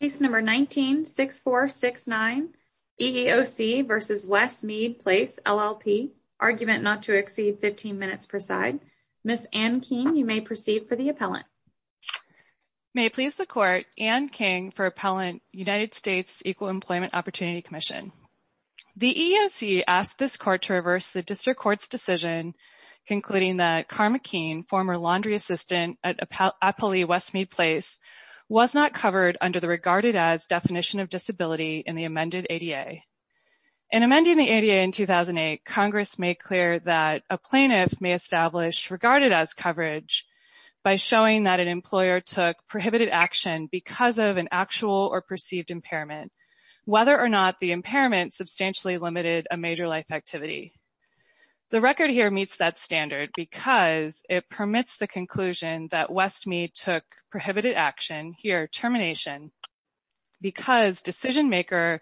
Case No. 19-6469, EEOC v. West Meade Place LLP, Argument not to exceed 15 minutes per side. Ms. Ann King, you may proceed for the appellant. May it please the Court, Ann King for Appellant, United States Equal Employment Opportunity Commission. The EEOC asked this Court to reverse the District Court's decision concluding that Karma Keene, former laundry assistant at Appali West Meade Place, was not covered under the regarded-as definition of disability in the amended ADA. In amending the ADA in 2008, Congress made clear that a plaintiff may establish regarded-as coverage by showing that an employer took prohibited action because of an actual or perceived impairment, whether or not the impairment substantially limited a major life activity. The record here meets that standard because it permits the conclusion that West Meade took prohibited action, here termination, because decision-maker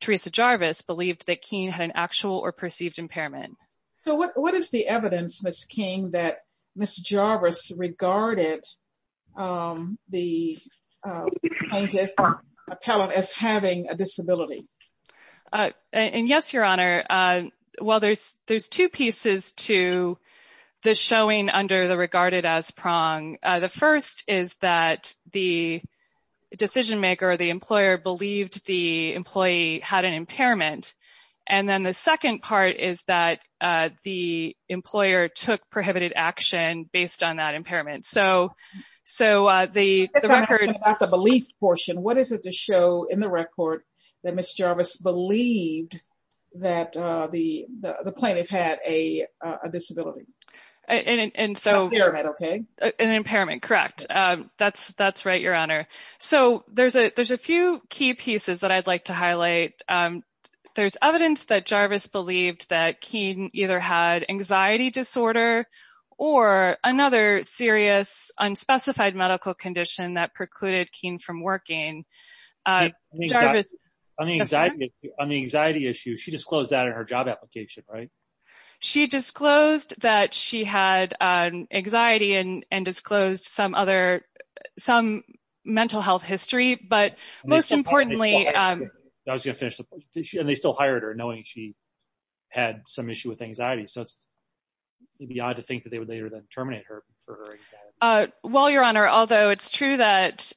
Teresa Jarvis believed that Keene had an actual or perceived impairment. So what is the evidence, Ms. King, that Ms. Jarvis regarded the plaintiff or appellant as having a disability? And yes, Your Honor, well, there's two pieces to the showing under the regarded-as prong. The first is that the decision-maker or the employer believed the employee had an impairment. And then the second part is that the employer took prohibited action based on that impairment. So the record… Let's ask about the belief portion. What is it to show in the record that Ms. Jarvis believed that the plaintiff had a disability? An impairment, okay? An impairment, correct. That's right, Your Honor. So there's a few key pieces that I'd like to highlight. There's evidence that Jarvis believed that Keene either had anxiety disorder or another serious unspecified medical condition that precluded Keene from working. On the anxiety issue, she disclosed that in her job application, right? She disclosed that she had anxiety and disclosed some mental health history. But most importantly… I was going to finish the question. And they still hired her knowing she had some issue with anxiety. So it's maybe odd to think that they would later then terminate her for her anxiety. Well, Your Honor, although it's true that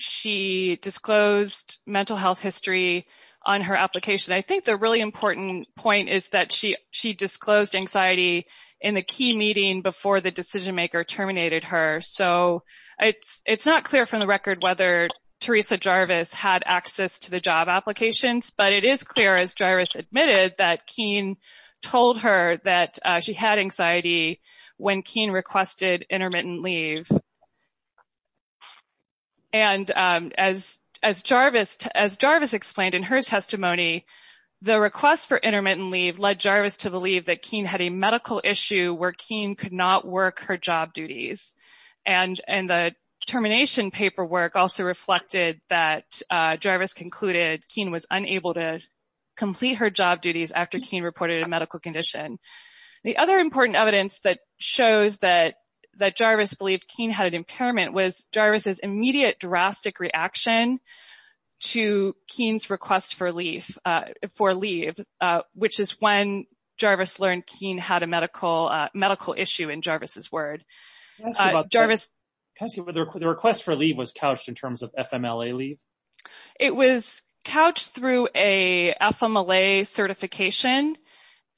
she disclosed mental health history on her application, I think the really important point is that she disclosed anxiety in the key meeting before the decision-maker terminated her. So it's not clear from the record whether Teresa Jarvis had access to the job applications, but it is clear, as Jarvis admitted, that Keene told her that she had anxiety when Keene requested intermittent leave. And as Jarvis explained in her testimony, the request for intermittent leave led Jarvis to believe that Keene had a medical issue where Keene could not work her job duties. And the termination paperwork also reflected that Jarvis concluded Keene was unable to complete her job duties after Keene reported a medical condition. The other important evidence that shows that Jarvis believed Keene had an impairment was Jarvis's immediate drastic reaction to Keene's request for leave, which is when Jarvis learned Keene had a medical issue in Jarvis's word. Can I ask you whether the request for leave was couched in terms of FMLA leave? It was couched through a FMLA certification,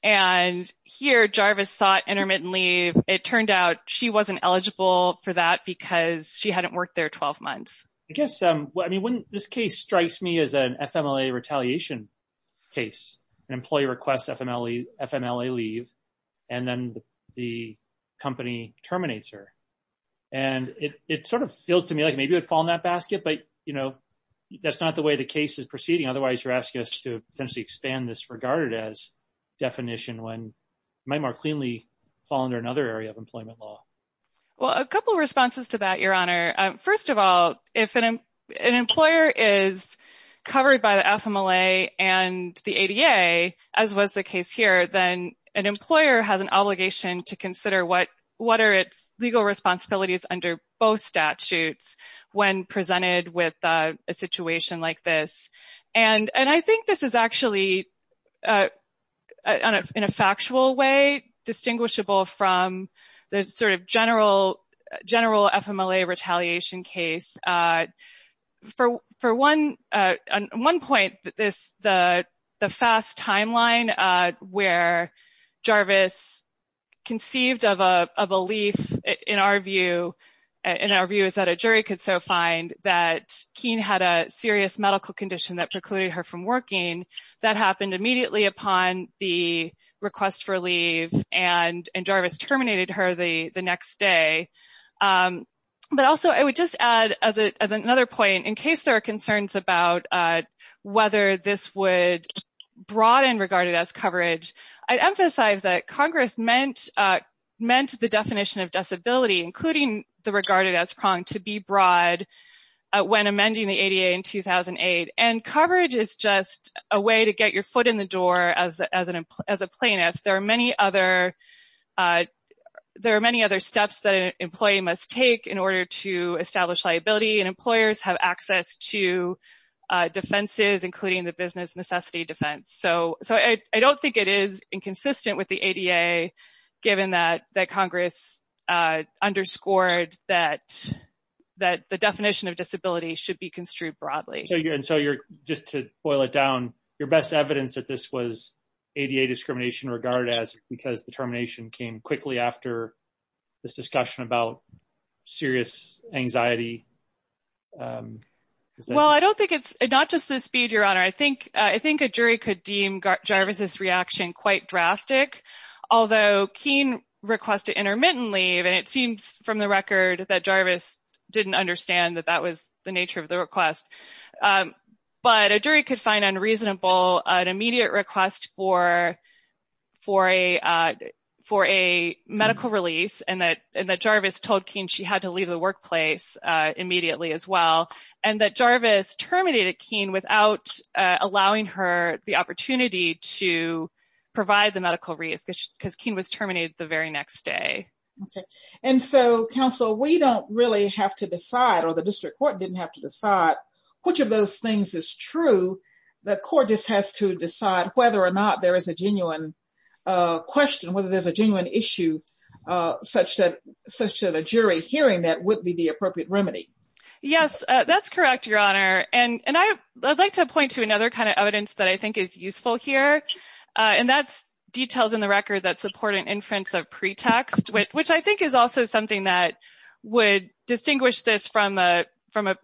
and here Jarvis sought intermittent leave. It turned out she wasn't eligible for that because she hadn't worked there 12 months. I guess, I mean, this case strikes me as an FMLA retaliation case. An employee requests FMLA leave, and then the company terminates her. And it sort of feels to me like maybe it would fall in that basket, but, you know, that's not the way the case is proceeding. Otherwise, you're asking us to potentially expand this regarded as definition when it might more cleanly fall under another area of employment law. Well, a couple of responses to that, Your Honor. First of all, if an employer is covered by the FMLA and the ADA, as was the case here, then an employer has an obligation to consider what are its legal responsibilities under both statutes when presented with a situation like this. And I think this is actually, in a factual way, distinguishable from the sort of general FMLA retaliation case. For one point, the fast timeline where Jarvis conceived of a belief, in our view, is that a jury could so find that Keene had a serious medical condition that precluded her from working. That happened immediately upon the request for leave, and Jarvis terminated her the next day. But also, I would just add, as another point, in case there are concerns about whether this would broaden regarded as coverage, I'd emphasize that Congress meant the definition of disability, including the regarded as prong, to be broad when amending the ADA in 2008. And coverage is just a way to get your foot in the door as a plaintiff. There are many other steps that an employee must take in order to establish liability, and employers have access to defenses, including the business necessity defense. So I don't think it is inconsistent with the ADA, given that Congress underscored that the definition of disability should be construed broadly. So just to boil it down, your best evidence that this was ADA discrimination regarded as, because the termination came quickly after this discussion about serious anxiety? Well, I don't think it's not just the speed, Your Honor. I think a jury could deem Jarvis' reaction quite drastic, although Keene requested intermittent leave, and it seems from the record that Jarvis didn't understand that that was the nature of the request. But a jury could find unreasonable an immediate request for a medical release, and that Jarvis told Keene she had to leave the workplace immediately as well, and that Jarvis terminated Keene without allowing her the opportunity to provide the medical release, because Keene was terminated the very next day. And so, counsel, we don't really have to decide, or the district court didn't have to decide, which of those things is true. The court just has to decide whether or not there is a genuine question, whether there's a genuine issue such that a jury hearing that would be the appropriate remedy. Yes, that's correct, Your Honor. And I'd like to point to another kind of evidence that I think is useful here, and that's details in the record that support an inference of pretext, which I think is also something that would distinguish this from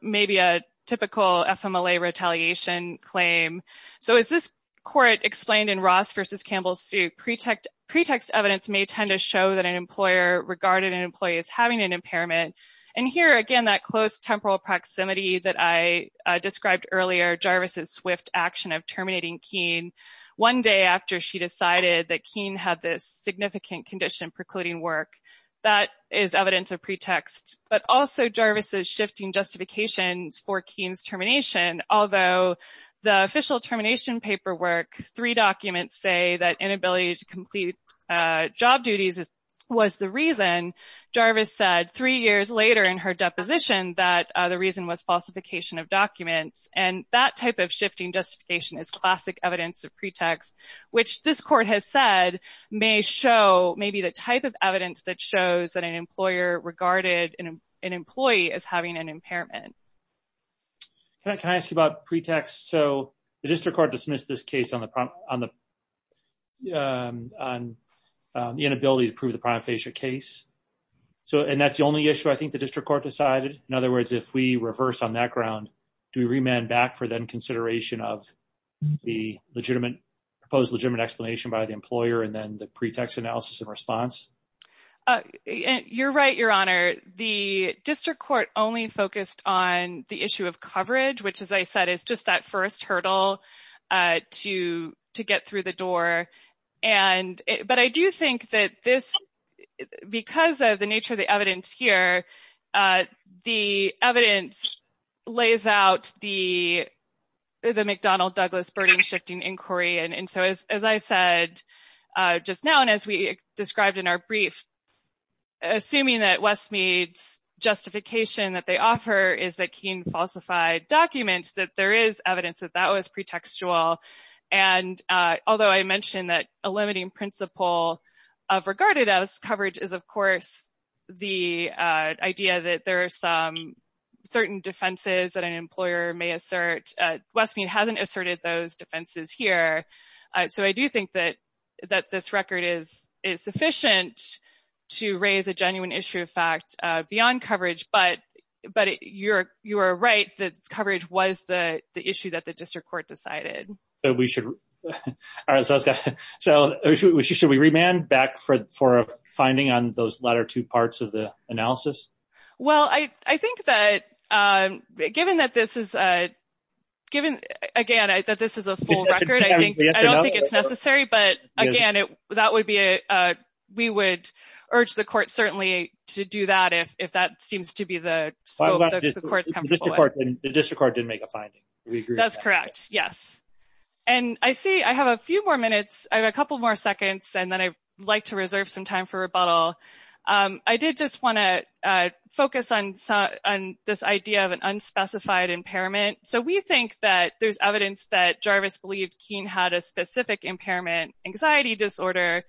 maybe a typical FMLA retaliation claim. So as this court explained in Ross v. Campbell's suit, pretext evidence may tend to show that an employer regarded an employee as having an impairment. And here, again, that close temporal proximity that I described earlier, Jarvis' swift action of terminating Keene, one day after she decided that Keene had this significant condition precluding work, that is evidence of pretext. But also Jarvis' shifting justifications for Keene's termination, although the official termination paperwork, three documents say that inability to complete job duties was the reason, Jarvis said three years later in her deposition that the reason was falsification of documents. And that type of shifting justification is classic evidence of pretext, which this court has said may show maybe the type of evidence that shows that an employer regarded an employee as having an impairment. Can I ask you about pretext? So the district court dismissed this case on the inability to prove the prima facie case. So and that's the only issue I think the district court decided. In other words, if we reverse on that ground, do we remand back for then consideration of the legitimate proposed legitimate explanation by the employer and then the pretext analysis and response? You're right, Your Honor. The district court only focused on the issue of coverage, which, as I said, is just that first hurdle to to get through the door. But I do think that this because of the nature of the evidence here, the evidence lays out the the McDonnell Douglas burden shifting inquiry. And so, as I said just now, and as we described in our brief, assuming that Westmead's justification that they offer is that Keene falsified documents, that there is evidence that that was pretextual. And although I mentioned that a limiting principle of regarded as coverage is, of course, the idea that there are some certain defenses that an employer may assert. Westmead hasn't asserted those defenses here. So I do think that that this record is sufficient to raise a genuine issue of fact beyond coverage. But but you're you're right. The coverage was the issue that the district court decided that we should. So should we remand back for for a finding on those latter two parts of the analysis? Well, I think that given that this is a given again that this is a full record, I think it's necessary. But again, that would be a we would urge the court certainly to do that if that seems to be the court's record. And the district court didn't make a finding. That's correct. Yes. And I see I have a few more minutes, a couple more seconds, and then I'd like to reserve some time for rebuttal. I did just want to focus on this idea of an unspecified impairment. So we think that there's evidence that Jarvis believed Keene had a specific impairment, anxiety disorder.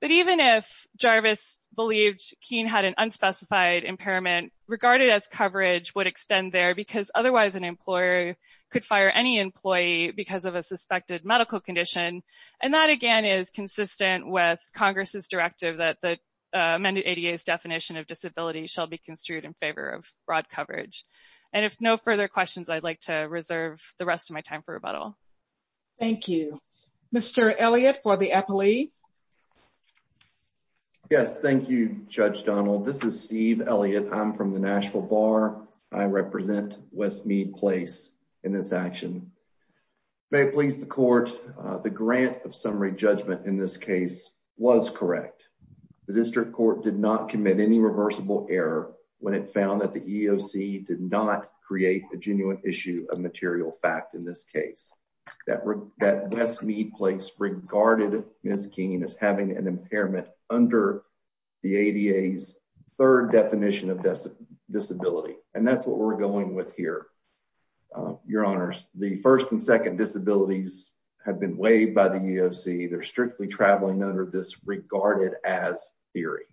But even if Jarvis believed Keene had an unspecified impairment regarded as coverage, would extend there because otherwise an employer could fire any employee because of a suspected medical condition. And that, again, is consistent with Congress's directive that the amended ADA's definition of disability shall be construed in favor of broad coverage. And if no further questions, I'd like to reserve the rest of my time for rebuttal. Thank you, Mr. Elliott for the Eppley. Yes. Thank you, Judge Donald. This is Steve Elliott. I'm from the Nashville Bar. I represent Westmead Place in this action. May it please the court. The grant of summary judgment in this case was correct. The district court did not commit any reversible error when it found that the EEOC did not create a genuine issue of material fact in this case. That Westmead Place regarded Ms. Keene as having an impairment under the ADA's third definition of disability. And that's what we're going with here. Your honors, the first and second disabilities have been waived by the EEOC. They're strictly traveling under this regarded as theory,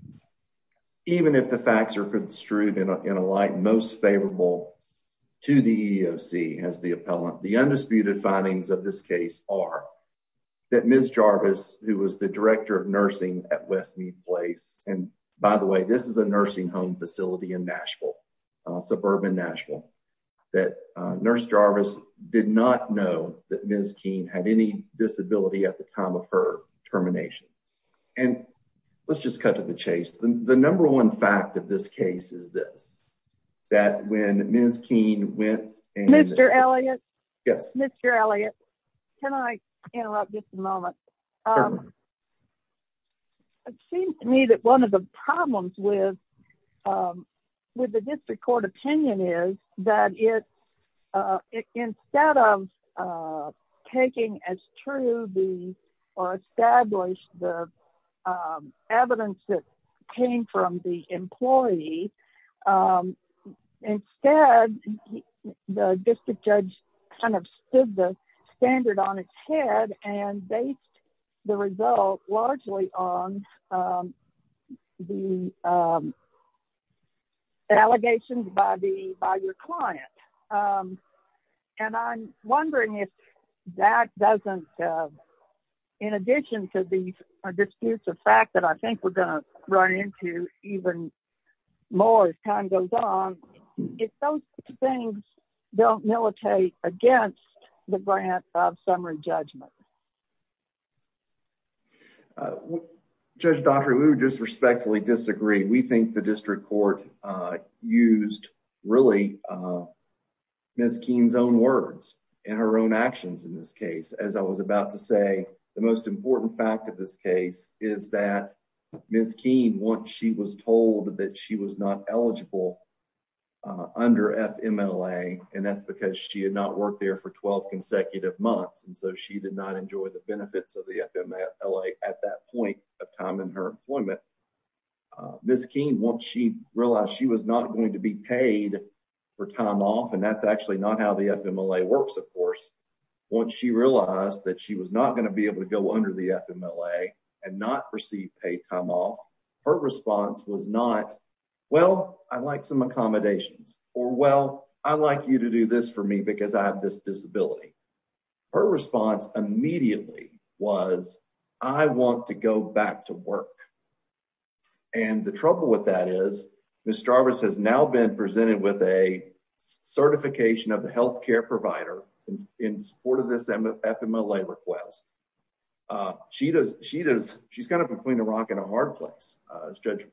even if the facts are construed in a light most favorable to the EEOC as the appellant. The undisputed findings of this case are that Ms. Jarvis, who was the director of nursing at Westmead Place. And by the way, this is a nursing home facility in Nashville, suburban Nashville. That nurse Jarvis did not know that Ms. Keene had any disability at the time of her termination. And let's just cut to the chase. The number one fact of this case is this. That when Ms. Keene went and Mr. Elliott. Yes, Mr. Elliott. Can I interrupt just a moment? It seems to me that one of the problems with with the district court opinion is that it instead of taking as true the or establish the evidence that came from the employee. Instead, the district judge kind of stood the standard on its head and based the result largely on the allegations by the by your client. And I'm wondering if that doesn't, in addition to the fact that I think we're going to run into even more as time goes on, if those things don't militate against the grant of summary judgment. Judge Daugherty, we would just respectfully disagree. We think the district court used really Ms. Keene's own words and her own actions in this case. As I was about to say, the most important fact of this case is that Ms. Keene, once she was told that she was not eligible. Under and that's because she had not worked there for 12 consecutive months, and so she did not enjoy the benefits of the at that point of time in her employment. Ms. Keene, once she realized she was not going to be paid for time off, and that's actually not how the works, of course. Once she realized that she was not going to be able to go under the FMLA and not receive paid time off, her response was not, well, I'd like some accommodations or, well, I'd like you to do this for me because I have this disability. Her response immediately was, I want to go back to work. And the trouble with that is Ms. Jarvis has now been presented with a certification of the health care provider in support of this FMLA request. She's kind of between a rock and a hard place, as Judge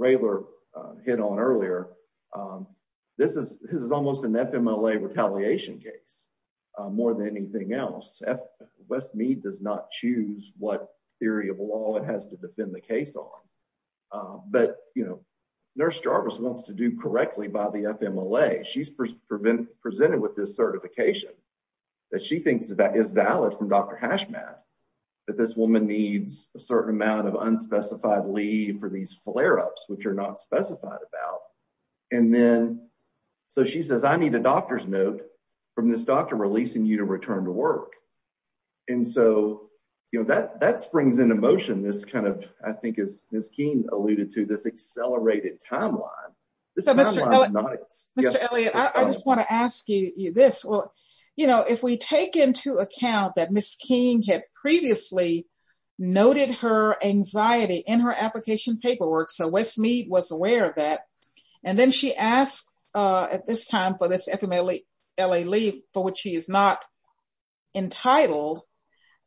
Rayler hit on earlier. This is almost an FMLA retaliation case, more than anything else. Westmead does not choose what theory of law it has to defend the case on. But, you know, Nurse Jarvis wants to do correctly by the FMLA. She's been presented with this certification that she thinks that is valid from Dr. Hashmat, that this woman needs a certain amount of unspecified leave for these flare-ups, which are not specified about. And then, so she says, I need a doctor's note from this doctor releasing you to return to work. And so, you know, that springs into motion this kind of, I think as Ms. Keene alluded to, this accelerated timeline. Mr. Elliott, I just want to ask you this. You know, if we take into account that Ms. Keene had previously noted her anxiety in her application paperwork, so Westmead was aware of that. And then she asked at this time for this FMLA leave for which she is not entitled.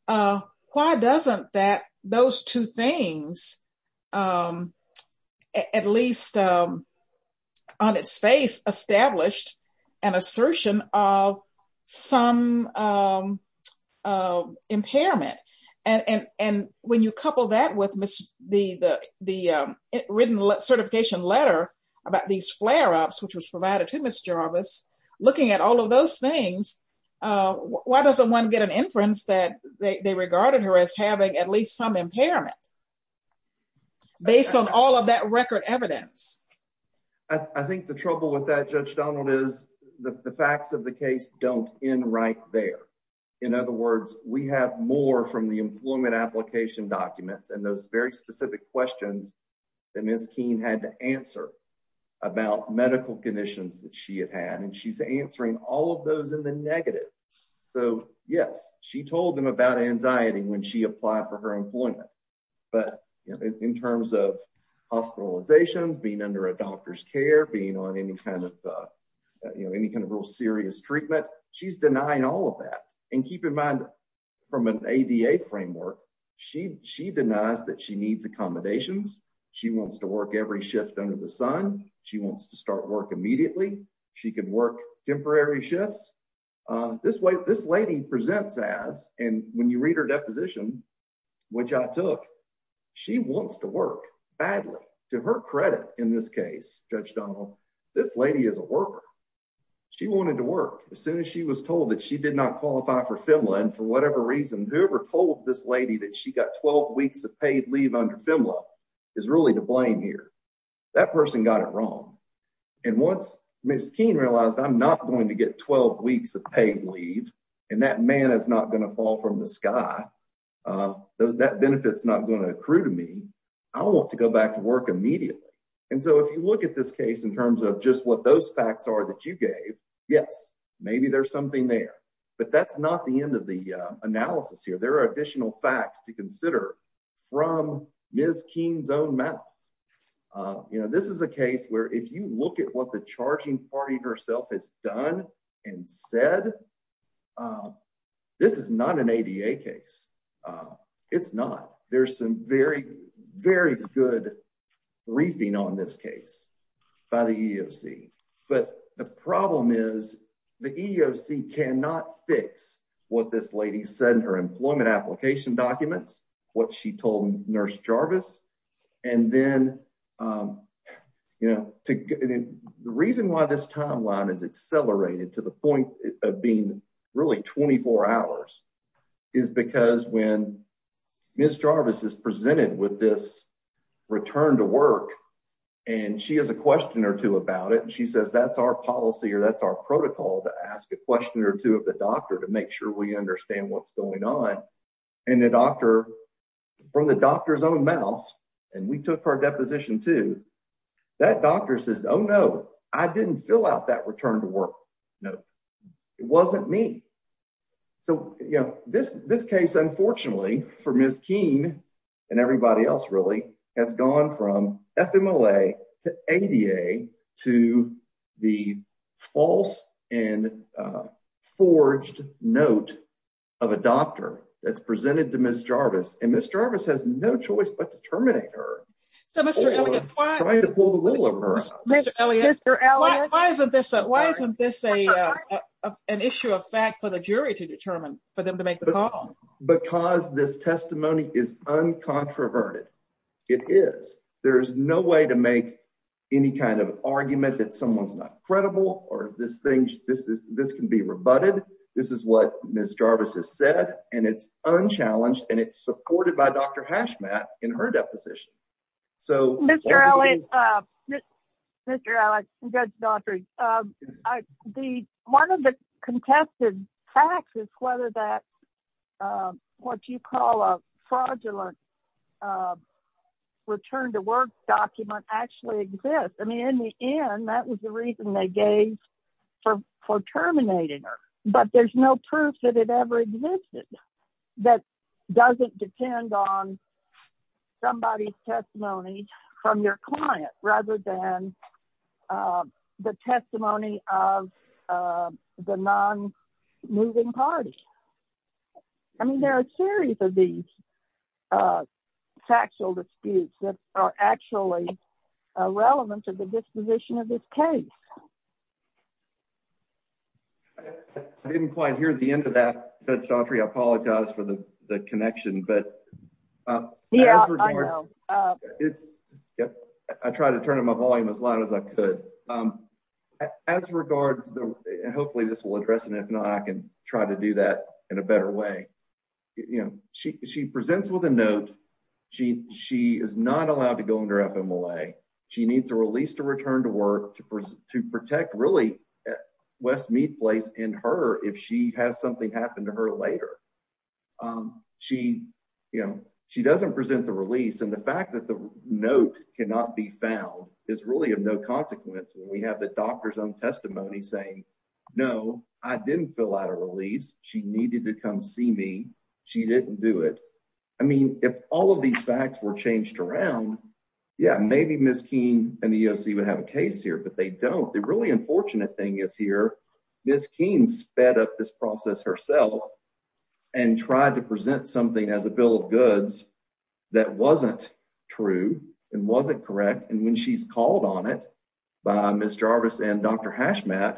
Why doesn't that, those two things, at least on its face, established an assertion of some impairment? And when you couple that with the written certification letter about these flare-ups, which was provided to Ms. Jarvis, looking at all of those things, why doesn't one get an inference that they regarded her as having at least some impairment, based on all of that record evidence? I think the trouble with that, Judge Donald, is the facts of the case don't end right there. In other words, we have more from the employment application documents and those very specific questions that Ms. Keene had to answer about medical conditions that she had had, and she's answering all of those in the negative. So, yes, she told them about anxiety when she applied for her employment. But in terms of hospitalizations, being under a doctor's care, being on any kind of real serious treatment, she's denying all of that. And keep in mind, from an ADA framework, she denies that she needs accommodations. She wants to work every shift under the sun. She wants to start work immediately. She could work temporary shifts. This lady presents as, and when you read her deposition, which I took, she wants to work badly. To her credit, in this case, Judge Donald, this lady is a worker. She wanted to work as soon as she was told that she did not qualify for FEMLA, and for whatever reason, whoever told this lady that she got 12 weeks of paid leave under FEMLA is really to blame here. That person got it wrong. And once Ms. Keene realized, I'm not going to get 12 weeks of paid leave, and that man is not going to fall from the sky, that benefit is not going to accrue to me, I want to go back to work immediately. And so if you look at this case in terms of just what those facts are that you gave, yes, maybe there's something there. But that's not the end of the analysis here. There are additional facts to consider from Ms. Keene's own mouth. This is a case where if you look at what the charging party herself has done and said, this is not an ADA case. It's not. There's some very, very good briefing on this case by the EEOC. But the problem is the EEOC cannot fix what this lady said in her employment application documents, what she told Nurse Jarvis. And then, you know, the reason why this timeline is accelerated to the point of being really 24 hours is because when Ms. Jarvis is presented with this return to work, and she has a question or two about it, and she says that's our policy or that's our protocol to ask a question or two of the doctor to make sure we understand what's going on. And the doctor, from the doctor's own mouth, and we took our deposition too, that doctor says, oh, no, I didn't fill out that return to work note. It wasn't me. So, you know, this case, unfortunately, for Ms. Keene, and everybody else really, has gone from FMLA to ADA to the false and forged note of a doctor that's presented to Ms. Jarvis, and Ms. Jarvis has no choice but to terminate her. Mr. Elliott, why isn't this an issue of fact for the jury to determine for them to make the call? Because this testimony is uncontroverted. It is. There's no way to make any kind of argument that someone's not credible, or this can be rebutted. This is what Ms. Jarvis has said, and it's unchallenged, and it's supported by Dr. Hashmat in her deposition. Mr. Elliott, Mr. Elliott, Judge Daughtry, one of the contested facts is whether that, what you call a fraudulent return to work document actually exists. I mean, in the end, that was the reason they gave for terminating her, but there's no proof that it ever existed that doesn't depend on somebody's testimony from your client, rather than the testimony of the non-moving party. I mean, there are a series of these factual disputes that are actually relevant to the disposition of this case. I didn't quite hear the end of that, Judge Daughtry. I apologize for the connection. Yeah, I know. I tried to turn up my volume as loud as I could. As regards, and hopefully this will address it, and if not, I can try to do that in a better way. She presents with a note. She is not allowed to go under FMLA. She needs a release to return to work to protect, really, Westmead Place and her if she has something happen to her later. She doesn't present the release, and the fact that the note cannot be found is really of no consequence. We have the doctor's own testimony saying, no, I didn't fill out a release. She needed to come see me. She didn't do it. I mean, if all of these facts were changed around, yeah, maybe Ms. Keene and the EOC would have a case here, but they don't. The really unfortunate thing is here, Ms. Keene sped up this process herself and tried to present something as a bill of goods that wasn't true and wasn't correct. When she's called on it by Ms. Jarvis and Dr. Hashmat,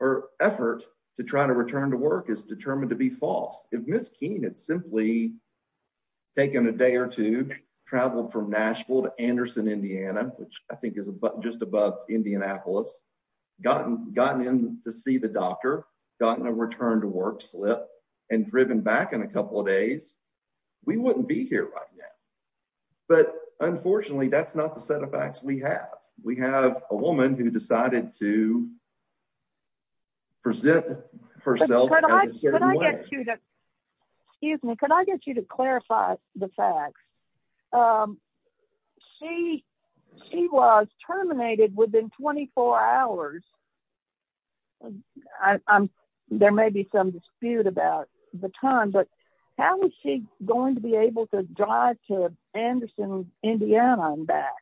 her effort to try to return to work is determined to be false. If Ms. Keene had simply taken a day or two, traveled from Nashville to Anderson, Indiana, which I think is just above Indianapolis, gotten in to see the doctor, gotten a return to work slip, and driven back in a couple of days, we wouldn't be here right now. But unfortunately, that's not the set of facts we have. We have a woman who decided to present herself in a certain way. Excuse me, could I get you to clarify the facts? She was terminated within 24 hours. There may be some dispute about the time, but how was she going to be able to drive to Anderson, Indiana and back?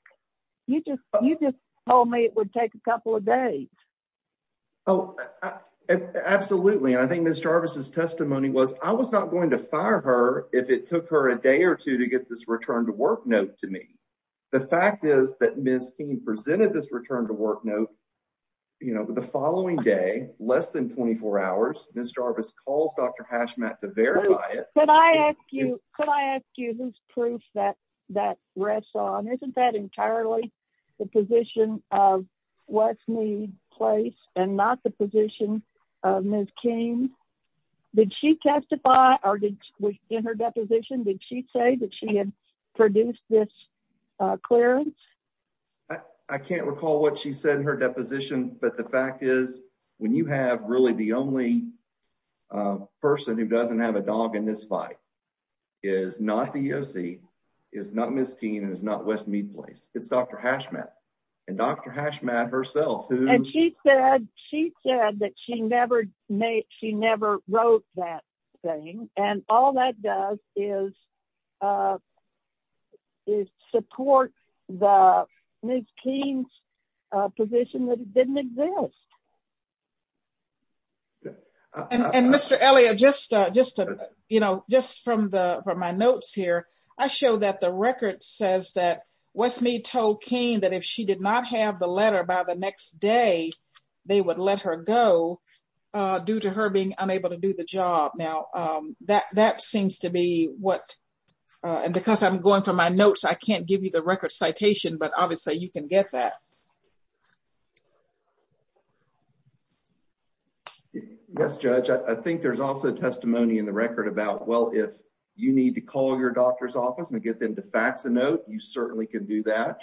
You just told me it would take a couple of days. Oh, absolutely. I think Ms. Jarvis' testimony was, I was not going to fire her if it took her a day or two to get this return to work note to me. The fact is that Ms. Keene presented this return to work note the following day, less than 24 hours. Ms. Jarvis calls Dr. Hashmat to verify it. Could I ask you whose proof that rests on? Isn't that entirely the position of Westmead Place and not the position of Ms. Keene? Did she testify or in her deposition, did she say that she had produced this clearance? I can't recall what she said in her deposition, but the fact is when you have really the only person who doesn't have a dog in this fight is not the EOC, is not Ms. Keene, and is not Westmead Place. It's Dr. Hashmat and Dr. Hashmat herself. And she said that she never wrote that thing. And all that does is support Ms. Keene's position that it didn't exist. And Mr. Elliott, just from my notes here, I show that the record says that Westmead told Keene that if she did not have the letter by the next day, they would let her go due to her being unable to do the job. Now, that seems to be what, and because I'm going from my notes, I can't give you the record citation, but obviously you can get that. Yes, Judge. I think there's also testimony in the record about, well, if you need to call your doctor's office and get them to fax a note, you certainly can do that.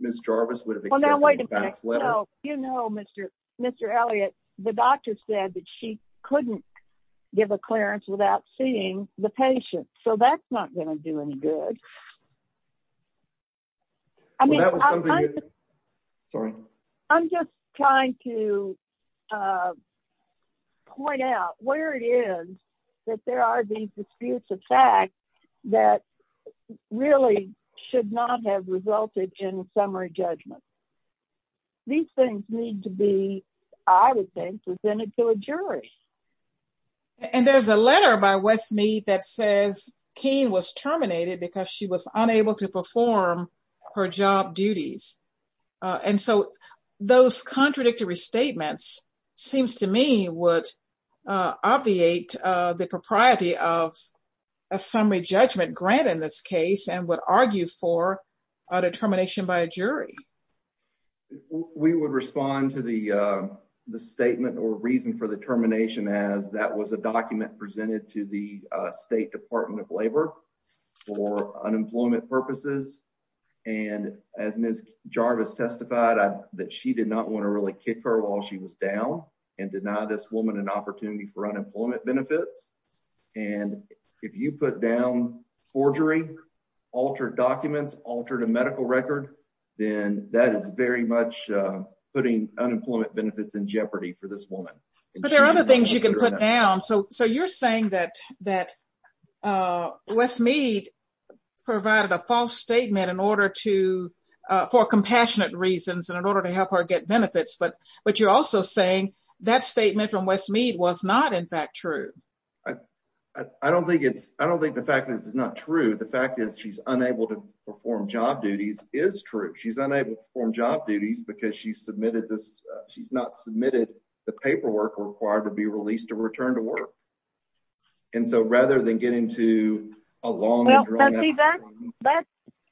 Ms. Jarvis would have accepted the faxed letter. Well, you know, Mr. Mr. Elliott, the doctor said that she couldn't give a clearance without seeing the patient. So that's not going to do any good. I mean, I'm just trying to point out where it is that there are these disputes of fact that really should not have resulted in summary judgment. Those things need to be, I would think, presented to a jury. And there's a letter by Westmead that says Keene was terminated because she was unable to perform her job duties. And so those contradictory statements seems to me would obviate the propriety of a summary judgment grant in this case and would argue for a determination by a jury. We would respond to the statement or reason for the termination as that was a document presented to the State Department of Labor for unemployment purposes. And as Ms. Jarvis testified, that she did not want to really kick her while she was down and deny this woman an opportunity for unemployment benefits. And if you put down forgery, altered documents, altered a medical record, then that is very much putting unemployment benefits in jeopardy for this woman. But there are other things you can put down. So you're saying that Westmead provided a false statement for compassionate reasons and in order to help her get benefits, but you're also saying that statement from Westmead was not in fact true. I don't think it's, I don't think the fact that this is not true. The fact is she's unable to perform job duties is true. She's unable to perform job duties because she's submitted this, she's not submitted the paperwork required to be released to return to work. And so rather than get into a long…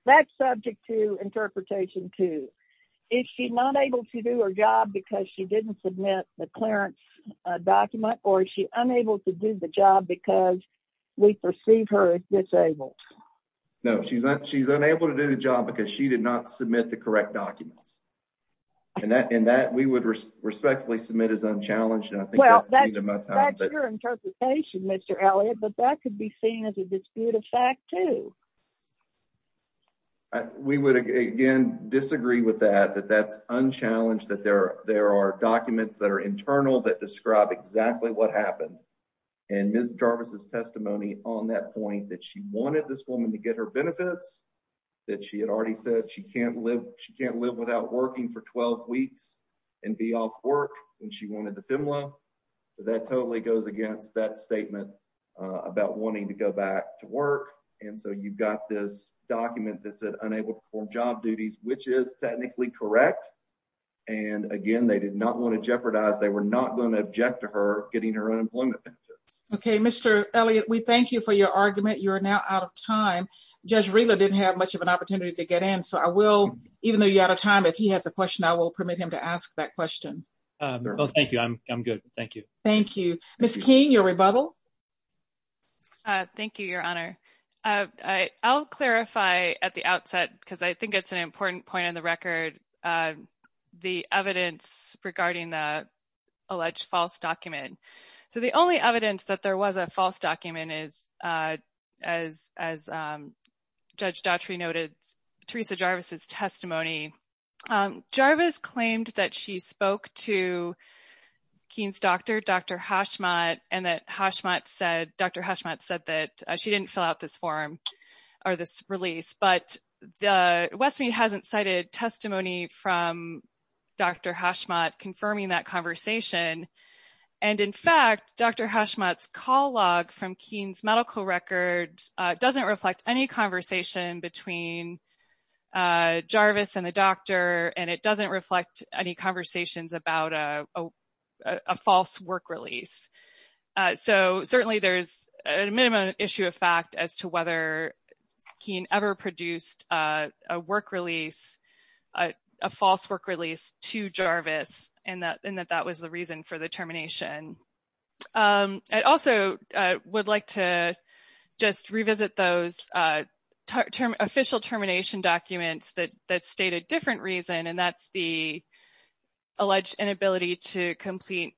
That's subject to interpretation too. Is she not able to do her job because she didn't submit the clearance document or is she unable to do the job because we perceive her as disabled? No, she's unable to do the job because she did not submit the correct documents. And that we would respectfully submit as unchallenged. Well, that's your interpretation, Mr. Elliott, but that could be seen as a dispute of fact too. We would again disagree with that, that that's unchallenged, that there are documents that are internal that describe exactly what happened. And Ms. Jarvis' testimony on that point that she wanted this woman to get her benefits, that she had already said she can't live, she can't live without working for 12 weeks and be off work, and she wanted the FEMLA. That totally goes against that statement about wanting to go back to work. And so you've got this document that said unable to perform job duties, which is technically correct. And again, they did not want to jeopardize, they were not going to object to her getting her unemployment benefits. Okay, Mr. Elliott, we thank you for your argument. You're now out of time. Judge Rila didn't have much of an opportunity to get in. So I will, even though you're out of time, if he has a question, I will permit him to ask that question. Thank you. I'm good. Thank you. Thank you. Ms. King, your rebuttal. Thank you, Your Honor. I'll clarify at the outset, because I think it's an important point on the record, the evidence regarding the alleged false document. So the only evidence that there was a false document is, as Judge Daughtry noted, Teresa Jarvis' testimony. Jarvis claimed that she spoke to Keene's doctor, Dr. Hashmat, and that Hashmat said, Dr. Hashmat said that she didn't fill out this form, or this release. But Westmead hasn't cited testimony from Dr. Hashmat confirming that conversation. And in fact, Dr. Hashmat's call log from Keene's medical records doesn't reflect any conversation between Jarvis and the doctor, and it doesn't reflect any conversations about a false work release. So certainly there's a minimum issue of fact as to whether Keene ever produced a work release, a false work release to Jarvis, and that that was the reason for the termination. I also would like to just revisit those official termination documents that state a different reason, and that's the alleged inability to complete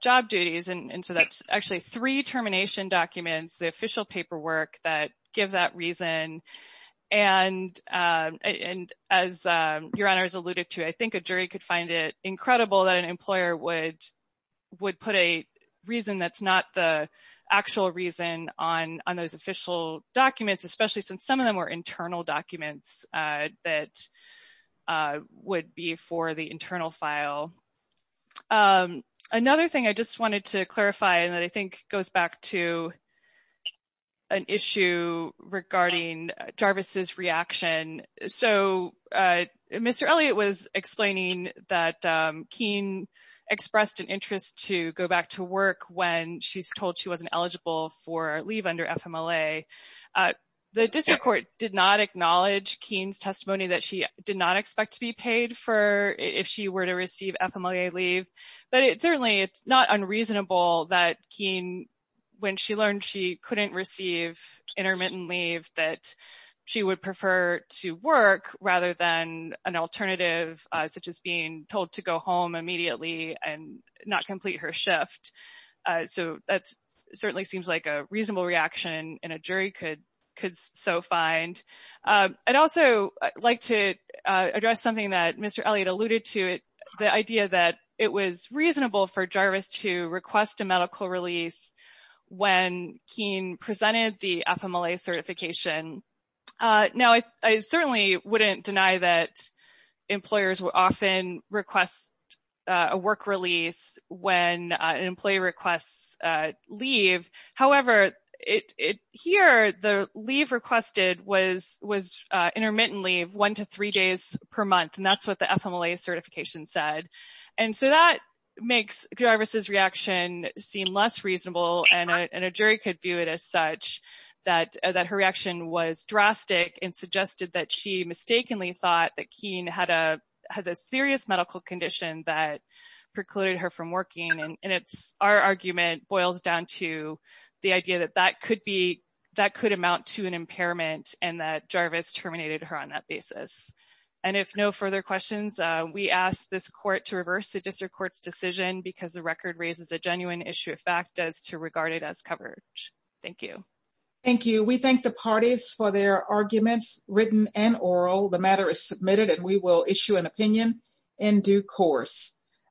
job duties. And so that's actually three termination documents, the official paperwork, that give that reason. And as Your Honors alluded to, I think a jury could find it incredible that an employer would put a reason that's not the actual reason on those official documents, especially since some of them were internal documents that would be for the internal file. Another thing I just wanted to clarify, and that I think goes back to an issue regarding Jarvis's reaction. So Mr. Elliott was explaining that Keene expressed an interest to go back to work when she's told she wasn't eligible for leave under FMLA. The district court did not acknowledge Keene's testimony that she did not expect to be paid for if she were to receive FMLA leave, but it certainly it's not unreasonable that Keene, when she learned she couldn't receive intermittent leave, that she would prefer to work rather than an alternative, such as being told to go home immediately and not complete her shift. So that certainly seems like a reasonable reaction, and a jury could so find. I'd also like to address something that Mr. Elliott alluded to, the idea that it was reasonable for Jarvis to request a medical release when Keene presented the FMLA certification. Now, I certainly wouldn't deny that employers will often request a work release when an employee requests leave. However, here the leave requested was intermittent leave, one to three days per month, and that's what the FMLA certification said. And so that makes Jarvis's reaction seem less reasonable, and a jury could view it as such, that her reaction was drastic and suggested that she mistakenly thought that Keene had a serious medical condition that precluded her from working, and our argument boils down to the idea that that could amount to an impairment and that Jarvis terminated her on that basis. And if no further questions, we ask this court to reverse the district court's decision because the record raises a genuine issue of fact as to regard it as coverage. Thank you. Thank you. We thank the parties for their arguments, written and oral. The matter is submitted and we will issue an opinion in due course.